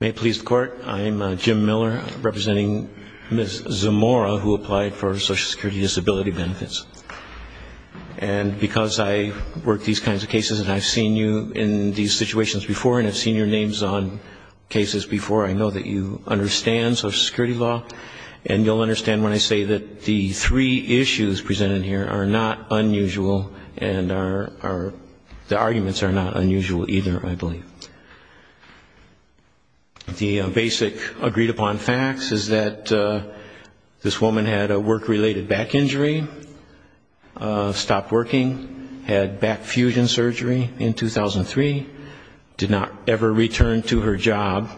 May it please the Court, I'm Jim Miller representing Ms. Zamora who applied for Social Security Disability Benefits. And because I work these kinds of cases and I've seen you in these situations before and I've seen your names on cases before, I know that you understand Social Security law and you'll understand when I say that the three issues presented here are not unusual and the arguments are not unusual either, I believe. The basic agreed-upon facts is that this woman had a work-related back injury, stopped working, had back fusion surgery in 2003, did not ever return to her job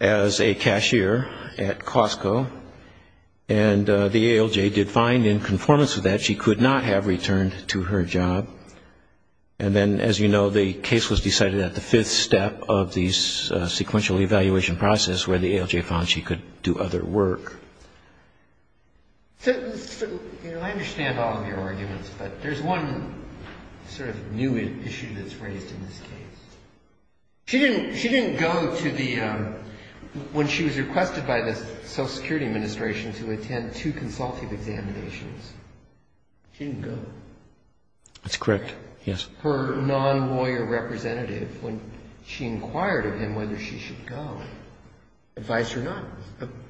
as a cashier at Costco, and the ALJ did find in conformance to that she could not have returned to her job. And then, as you know, the case was decided at the fifth step of the sequential evaluation process where the ALJ found she could do other work. So, you know, I understand all of your arguments, but there's one sort of new issue that's raised in this case. She didn't go to the ‑‑ when she was requested by the Social Security Administration to attend two consultative examinations, she didn't go. That's correct, yes. Her non-lawyer representative, when she inquired of him whether she should go, advised her not,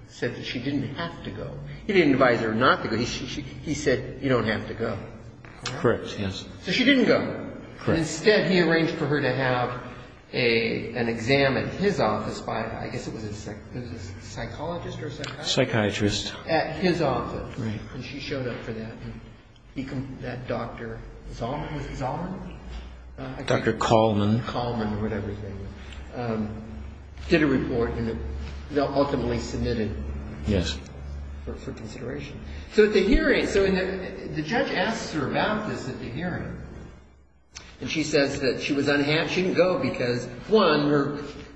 said that she didn't have to go. He didn't advise her not to go. He said, you don't have to go. Correct, yes. So she didn't go. Correct. Instead, he arranged for her to have an exam at his office by, I guess it was a psychologist or a psychiatrist? Psychiatrist. At his office. Right. And she showed up for that. That Dr. Zalman? Dr. Kalman. Kalman or whatever his name was. Did a report and ultimately submitted for consideration. Yes. So at the hearing, the judge asks her about this at the hearing, and she says that she didn't go because, one,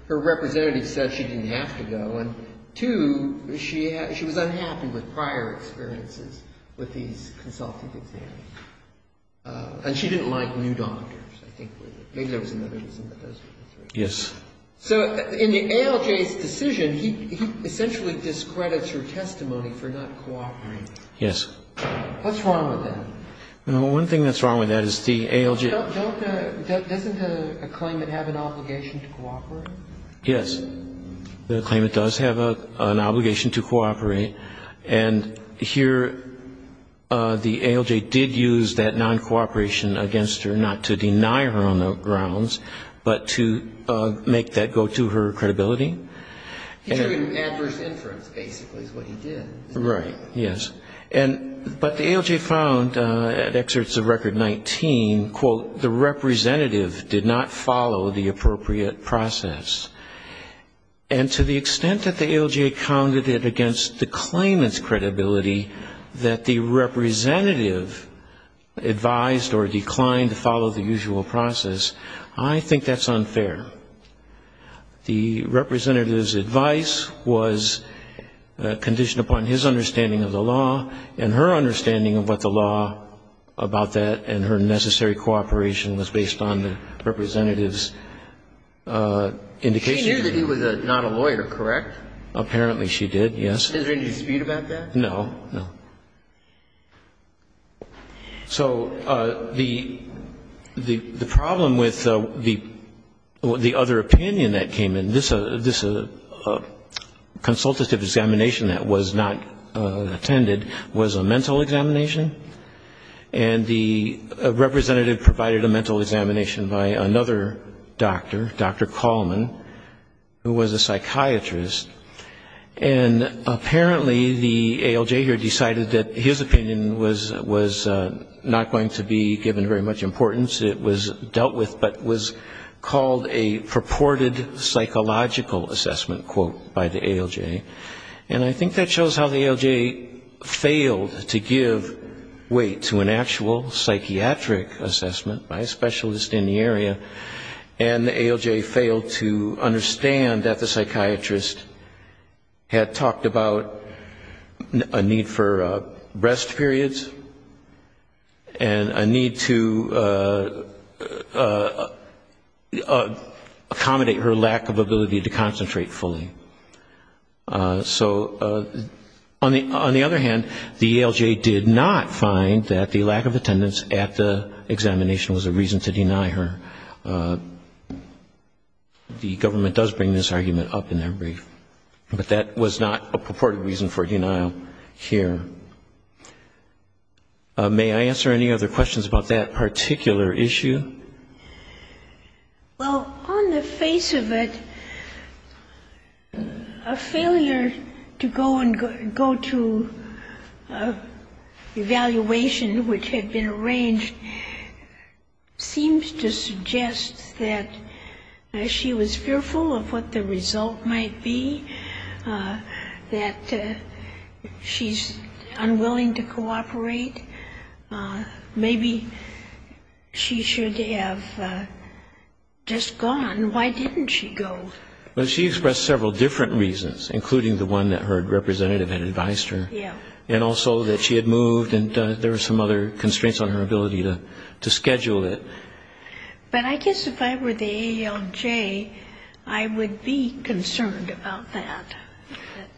her representative said she didn't have to go, and, two, she was unhappy with prior experiences with these consultative exams, and she didn't like new doctors, I think. Maybe there was another reason, but those were the three. Yes. So in the ALJ's decision, he essentially discredits her testimony for not cooperating. Yes. What's wrong with that? Well, one thing that's wrong with that is the ALJ. Doesn't a claimant have an obligation to cooperate? Yes. The claimant does have an obligation to cooperate. And here the ALJ did use that non-cooperation against her, not to deny her on the grounds, but to make that go to her credibility. He drew adverse inference, basically, is what he did. Right. Yes. But the ALJ found, at excerpts of Record 19, quote, the representative did not follow the appropriate process. And to the extent that the ALJ counted it against the claimant's credibility that the representative advised or declined to follow the usual process, I think that's unfair. The representative's advice was conditioned upon his understanding of the law and her understanding of what the law about that and her necessary cooperation was based on the representative's indication. She knew that he was not a lawyer, correct? Apparently she did, yes. Is there any dispute about that? No, no. So the problem with the other opinion that came in, this consultative examination that was not attended, was a mental examination. And the representative provided a mental examination by another doctor, Dr. Coleman, who was a psychiatrist. And apparently the ALJ here decided that his opinion was not going to be given very much importance. It was dealt with, but was called a purported psychological assessment, quote, by the ALJ. And I think that shows how the ALJ failed to give weight to an actual psychiatric assessment by a specialist in the area, and the ALJ failed to understand that the psychiatrist had talked about a need for rest periods and a need to accommodate her lack of ability to concentrate fully. So on the other hand, the ALJ did not find that the lack of attendance at the examination was a reason to deny her. The government does bring this argument up in their brief, but that was not a purported reason for denial here. May I answer any other questions about that particular issue? Well, on the face of it, a failure to go and go to evaluation which had been arranged seems to suggest that she was fearful of what the result might be, that she's unwilling to cooperate. Maybe she should have just gone. Why didn't she go? Well, she expressed several different reasons, including the one that her representative had advised her, and also that she had moved and there were some other constraints on her ability to schedule it. But I guess if I were the ALJ, I would be concerned about that.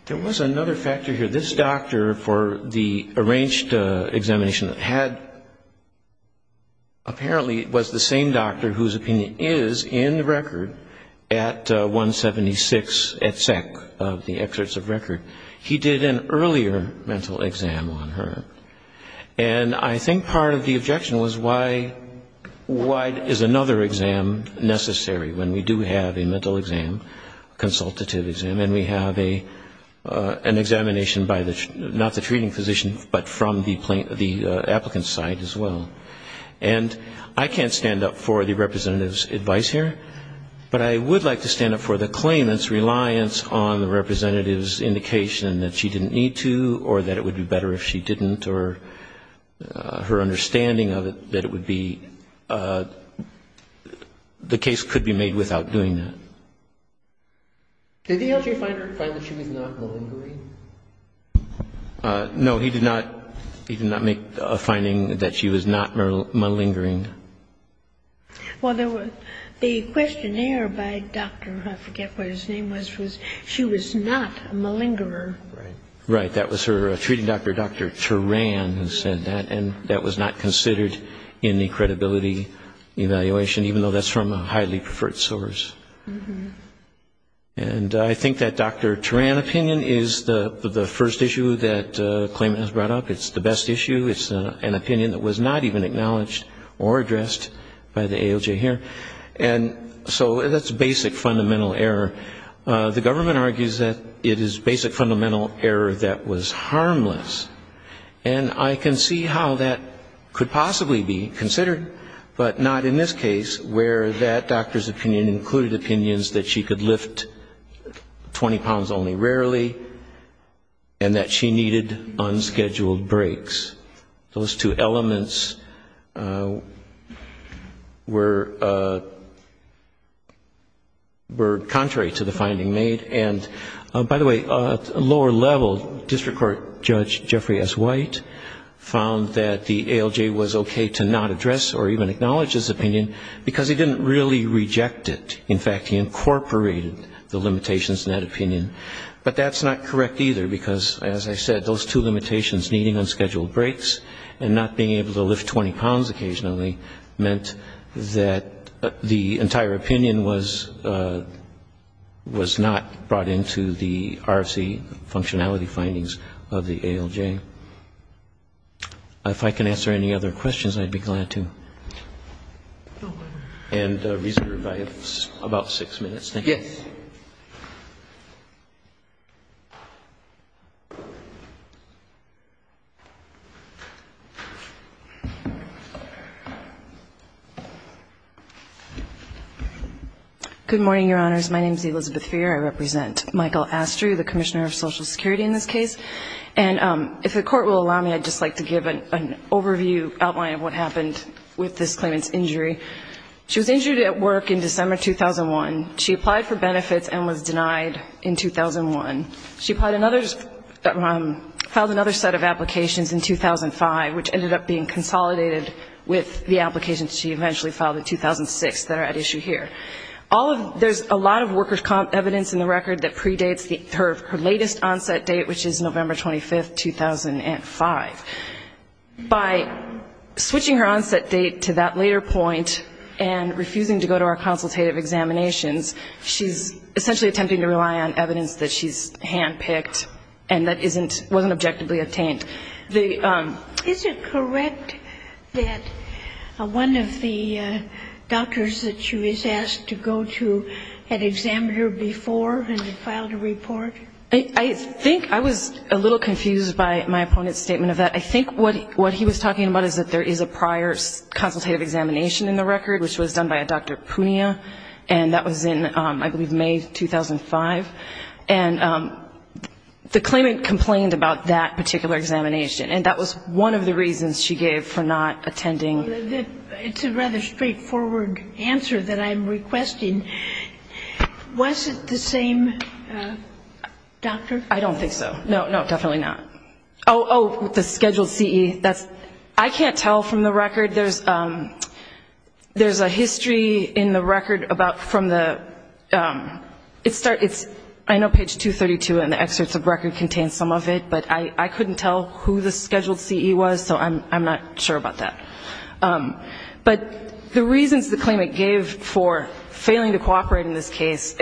There was another factor here. This doctor for the arranged examination that had apparently was the same doctor whose opinion is in the record at 176 at SEC, of the excerpts of record, he did an earlier mental exam on her. And I think part of the objection was why is another exam necessary when we do have a mental exam, a consultative exam, and we have an examination by not the treating physician, but from the applicant's side as well. And I can't stand up for the representative's advice here, but I would like to stand up for the claimant's reliance on the representative's indication that she didn't need to or that it would be better if she didn't or her understanding of it, that it would be, the case could be made without doing that. Did the ALJ find that she was not malingering? No, he did not make a finding that she was not malingering. Well, the questionnaire by Dr. I forget what his name was, she was not a malingerer. Right, that was her treating doctor, Dr. Turan, who said that, and that was not considered in the credibility evaluation, even though that's from a highly preferred source. And I think that Dr. Turan opinion is the first issue that the claimant has brought up. It's the best issue. It's an opinion that was not even acknowledged or addressed by the ALJ here. And so that's basic fundamental error. The government argues that it is basic fundamental error that was harmless. And I can see how that could possibly be considered, but not in this case, where that doctor's opinion included opinions that she could lift 20 pounds only rarely and that she needed unscheduled breaks. Those two elements were contrary to the finding made. And, by the way, at a lower level, District Court Judge Jeffrey S. White found that the ALJ was okay to not address or even acknowledge his opinion because he didn't really reject it. In fact, he incorporated the limitations in that opinion. But that's not correct, either, because, as I said, those two limitations, needing unscheduled breaks and not being able to lift 20 pounds occasionally, meant that the entire opinion was not brought into the RFC functionality findings of the ALJ. If I can answer any other questions, I'd be glad to. And reason to review, I have about six minutes. Thank you. Yes. Good morning, Your Honors. My name is Elizabeth Freer. I represent Michael Astrew, the Commissioner of Social Security in this case. And if the Court will allow me, I'd just like to give an overview, outline of what happened with this claimant's injury. She was injured at work in December 2001. She applied for benefits and was denied in 2001. She filed another set of applications in 2005, which ended up being consolidated with the applications she eventually filed in 2006 that are at issue here. There's a lot of worker's comp evidence in the record that predates her latest onset date, which is November 25, 2005. By switching her onset date to that later point and refusing to go to our consultative examinations, she's essentially attempting to rely on evidence that she's handpicked and that wasn't objectively obtained. Is it correct that one of the doctors that she was asked to go to had examined her before and had filed a report? I think I was a little confused by my opponent's statement of that. I think what he was talking about is that there is a prior consultative examination in the record, which was done by a Dr. Punea, and that was in, I believe, May 2005. And the claimant complained about that particular examination, and that was one of the reasons she gave for not attending. It's a rather straightforward answer that I'm requesting. Was it the same doctor? I don't think so. No, no, definitely not. Oh, oh, the scheduled CE. I can't tell from the record. There's a history in the record about from the, it's, I know page 232 in the excerpts of the record contains some of it, but I couldn't tell who the scheduled CE was, so I'm not sure about that. But the reasons the claimant gave for failing to cooperate in this case,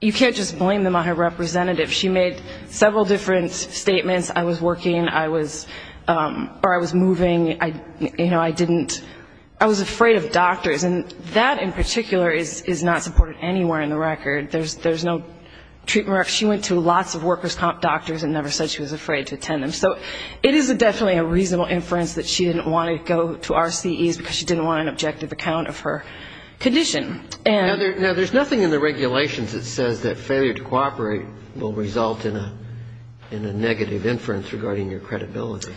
you can't just blame them on her representative. She made several different statements. I was working. I was, or I was moving. You know, I didn't, I was afraid of doctors. And that in particular is not supported anywhere in the record. There's no treatment. She went to lots of workers' comp doctors and never said she was afraid to attend them. So it is definitely a reasonable inference that she didn't want to go to our CEs because she didn't want an objective account of her condition. Now, there's nothing in the regulations that says that failure to cooperate will result in a negative inference regarding your credibility.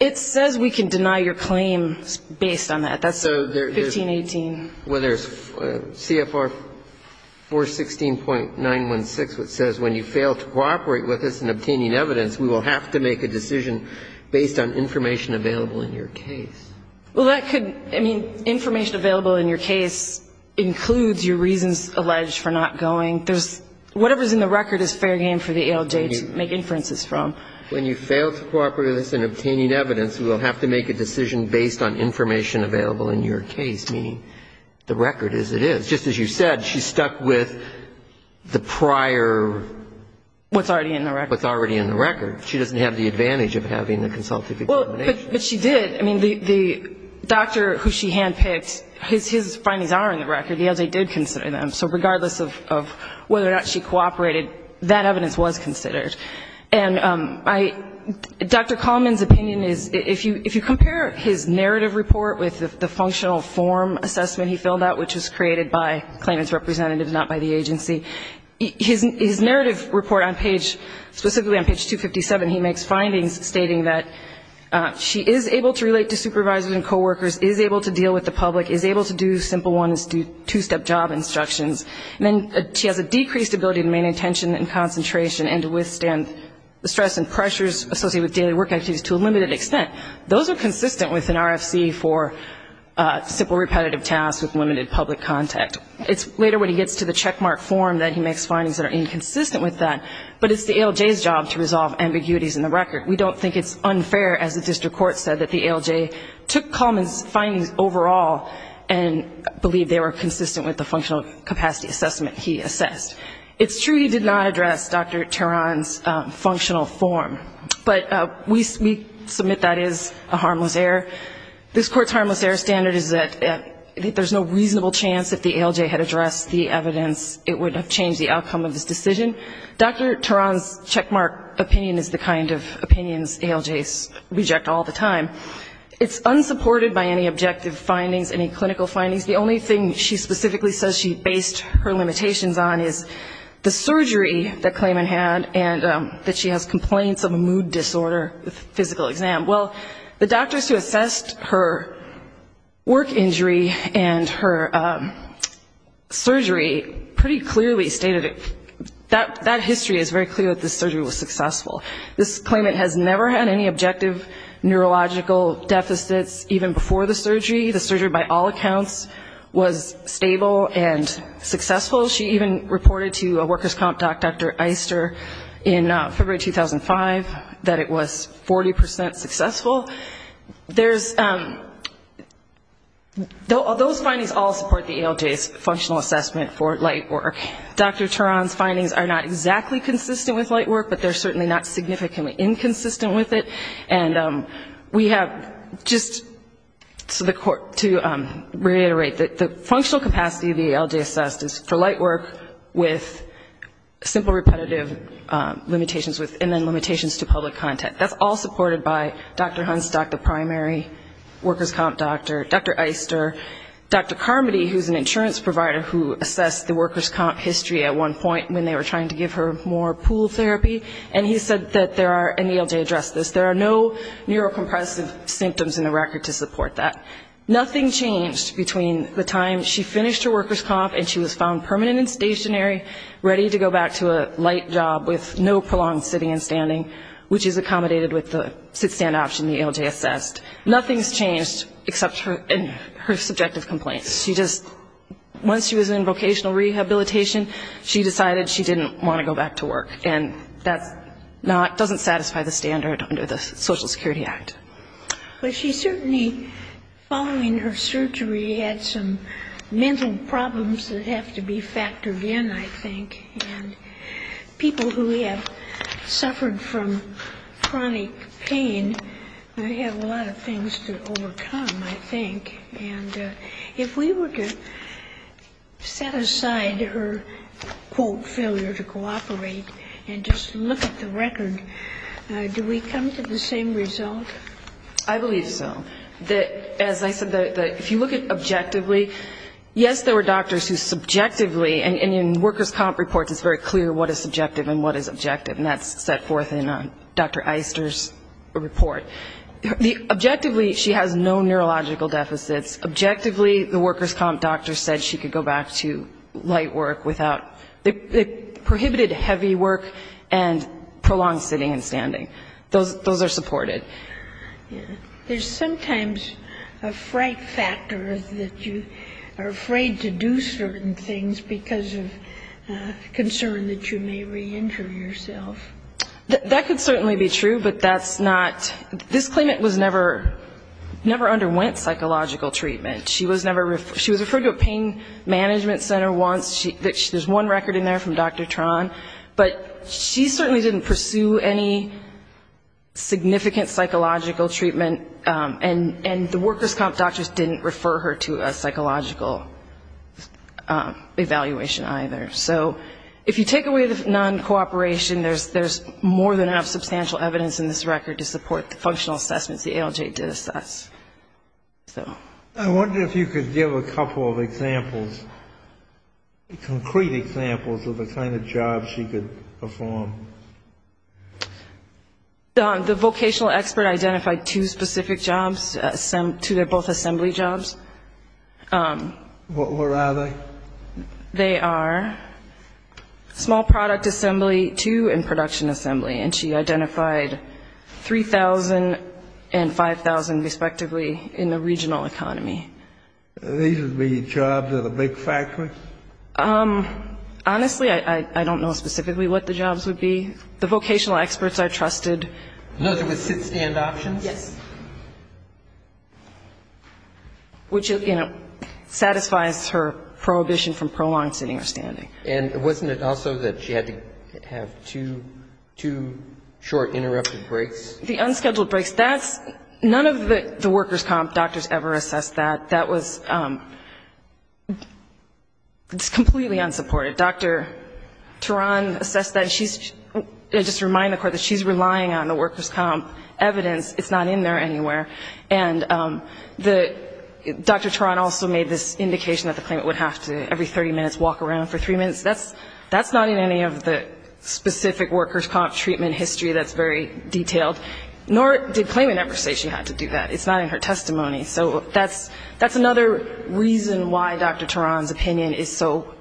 It says we can deny your claim based on that. That's 1518. Well, there's CFR 416.916, which says when you fail to cooperate with us in obtaining evidence, we will have to make a decision based on information available in your case. Well, that could, I mean, information available in your case includes your reasons alleged for not going. There's, whatever's in the record is fair game for the ALJ to make inferences from. When you fail to cooperate with us in obtaining evidence, we will have to make a decision based on information available in your case, meaning the record as it is. Just as you said, she's stuck with the prior. What's already in the record. What's already in the record. She doesn't have the advantage of having the consultative determination. But she did. I mean, the doctor who she handpicked, his findings are in the record. The ALJ did consider them. So regardless of whether or not she cooperated, that evidence was considered. And Dr. Coleman's opinion is if you compare his narrative report with the functional form assessment he filled out, which was created by claimants' representatives, not by the agency, his narrative report on page, specifically on page 257, he makes findings stating that she is able to relate to supervisors and coworkers, is able to deal with the public, is able to do simple ones, do two-step job instructions. And then she has a decreased ability to maintain attention and concentration and to withstand the stress and pressures associated with daily work activities to a limited extent. Those are consistent with an RFC for simple repetitive tasks with limited public contact. It's later when he gets to the checkmark form that he makes findings that are inconsistent with that. But it's the ALJ's job to resolve ambiguities in the record. We don't think it's unfair, as the district court said, that the ALJ took Coleman's findings overall and believed they were consistent with the functional capacity assessment he assessed. It's true he did not address Dr. Teran's functional form, but we submit that is a harmless error. This Court's harmless error standard is that there's no reasonable chance if the ALJ had addressed the evidence it would have changed the outcome of this decision. Dr. Teran's checkmark opinion is the kind of opinions ALJs reject all the time. It's unsupported by any objective findings, any clinical findings. The only thing she specifically says she based her limitations on is the surgery that Coleman had and that she has complaints of a mood disorder with a physical exam. Well, the doctors who assessed her work injury and her surgery pretty clearly stated that that history is very clear that this surgery was successful. This claimant has never had any objective neurological deficits even before the surgery. The surgery, by all accounts, was stable and successful. She even reported to a workers' comp doc, Dr. Eister, in February 2005, that it was 40% successful. Those findings all support the ALJ's functional assessment for light work. Dr. Teran's findings are not exactly consistent with light work, but they're certainly not significantly inconsistent with it. And we have just to reiterate that the functional capacity of the ALJ assessed is for light work with simple repetitive limitations and then limitations to public content. That's all supported by Dr. Hunstock, the primary workers' comp doctor, Dr. Eister, Dr. Carmody, who's an insurance provider who assessed the workers' comp history at one point when they were trying to give her more pool therapy, and he said that there are, and the ALJ addressed this, there are no neurocompressive symptoms in the record to support that. Nothing changed between the time she finished her workers' comp and she was found permanent and stationary, ready to go back to a light job with no prolonged sitting and standing, which is accommodated with the sit-stand option the ALJ assessed. Nothing's changed except for her subjective complaints. She just, once she was in vocational rehabilitation, she decided she didn't want to go back to work. And that's not, doesn't satisfy the standard under the Social Security Act. But she certainly, following her surgery, had some mental problems that have to be factored in, I think. And people who have suffered from chronic pain have a lot of things to overcome, I think. And if we were to set aside her, quote, failure to cooperate and just look at the record, do we come to the same result? I believe so. As I said, if you look at objectively, yes, there were doctors who subjectively, and in workers' comp reports it's very clear what is subjective and what is objective, and that's set forth in Dr. Eister's report. Objectively, she has no neurological deficits. Objectively, the workers' comp doctor said she could go back to light work without, prohibited heavy work and prolonged sitting and standing. Those are supported. There's sometimes a fright factor that you are afraid to do certain things because of concern that you may reenter yourself. That could certainly be true, but that's not, this claimant was never, never underwent psychological treatment. She was referred to a pain management center once, there's one record in there from Dr. Tran, but she certainly didn't pursue any significant psychological treatment, and the workers' comp doctors didn't refer her to a psychological evaluation either. So if you take away the non-cooperation, there's more than enough substantial evidence in this record to support the functional assessments the ALJ did assess. I wonder if you could give a couple of examples, concrete examples of the kind of jobs she could perform. The vocational expert identified two specific jobs, two that are both assembly jobs. Where are they? They are small product assembly two and production assembly, and she identified 3,000 and 5,000 respectively in the regional economy. These would be jobs at a big factory? Honestly, I don't know specifically what the jobs would be. The vocational experts I trusted. Those are with sit-stand options? Yes. Which, you know, satisfies her prohibition from prolonged sitting or standing. And wasn't it also that she had to have two short interrupted breaks? The unscheduled breaks, that's, none of the workers' comp doctors ever assessed that. That was completely unsupported. Dr. Turan assessed that, and she's, just to remind the Court that she's relying on the workers' comp evidence. It's not in there anywhere. And Dr. Turan also made this indication that the claimant would have to every 30 minutes walk around for three minutes. That's not in any of the specific workers' comp treatment history that's very detailed, nor did claimant ever say she had to do that. It's not in her testimony. So that's another reason why Dr. Turan's opinion is so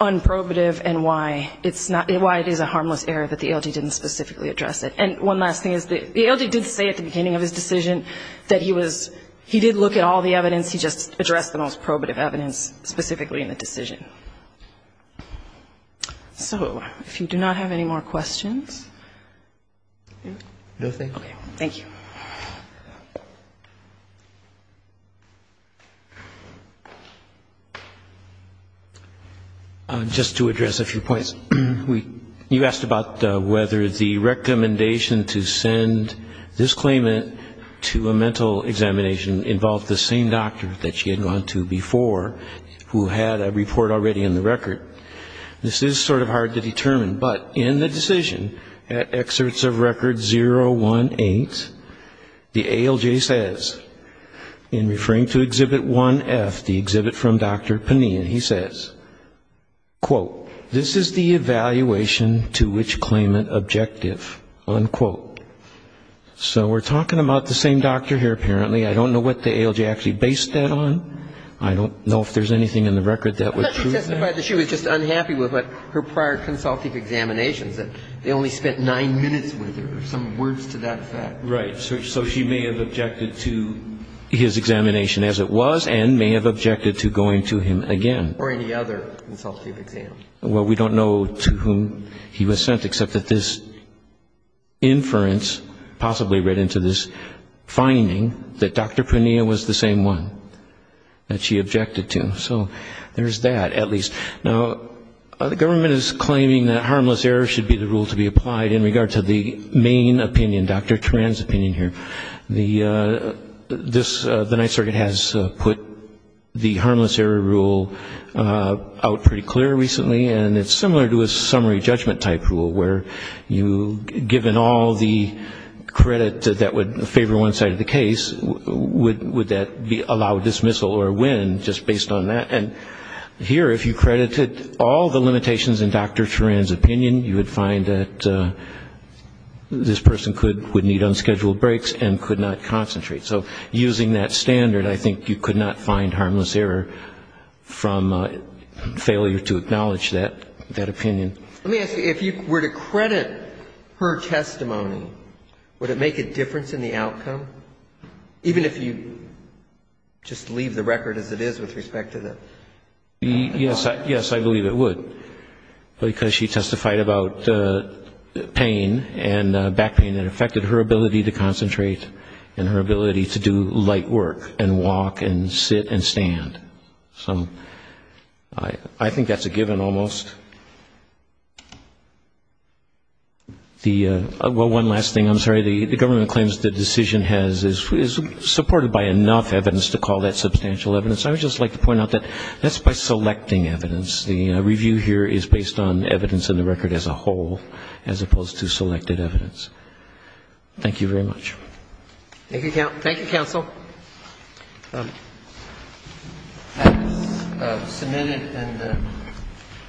unprobative and why it's not, why it is a harmless error that the ALG didn't specifically address it. And one last thing is the ALG did say at the beginning of his decision that he was, he did look at all the evidence, he just addressed the most important evidence. So if you do not have any more questions? No, thank you. Just to address a few points. You asked about whether the recommendation to send this claimant to a mental examination involved the same doctor that she had gone to before, who had a report already in the record. This is sort of hard to determine, but in the decision at excerpts of record 018, the ALG says, in referring to Exhibit 1F, the exhibit from Dr. Panin, he says, quote, this is the evaluation to which claimant objective, unquote. So we're talking about the same doctor here, apparently. I don't know what the ALG actually based that on. I don't know if there's anything in the record that would prove that. But she testified that she was just unhappy with her prior consultative examinations, that they only spent nine minutes with her, some words to that effect. Right. So she may have objected to his examination as it was and may have objected to going to him again. Or any other consultative exam. Well, we don't know to whom he was sent, except that this inference possibly read into this finding that Dr. Panin was the same one that she objected to. So there's that, at least. Now, the government is claiming that harmless error should be the rule to be applied in regard to the main opinion, Dr. Tran's opinion here. The Ninth Circuit has put the harmless error rule out pretty clear recently. And it's similar to a summary judgment type rule, where you, given all the credit that would favor one side of the case, would that allow a dismissal or a win, just based on that. And here, if you credited all the limitations in Dr. Tran's opinion, you would find that this person would need unscheduled breaks and could not go to court. She could not concentrate. So using that standard, I think you could not find harmless error from failure to acknowledge that opinion. Let me ask you, if you were to credit her testimony, would it make a difference in the outcome? Even if you just leave the record as it is with respect to the... Yes, I believe it would. Because she testified about pain and back pain that affected her ability to concentrate and her ability to do light work and walk and sit and stand. I think that's a given, almost. One last thing, I'm sorry, the government claims the decision is supported by enough evidence to call that substantial evidence. I would just like to point out that that's by selecting evidence. The review here is based on evidence in the record as a whole, as opposed to selected evidence. Thank you very much. Thank you, counsel.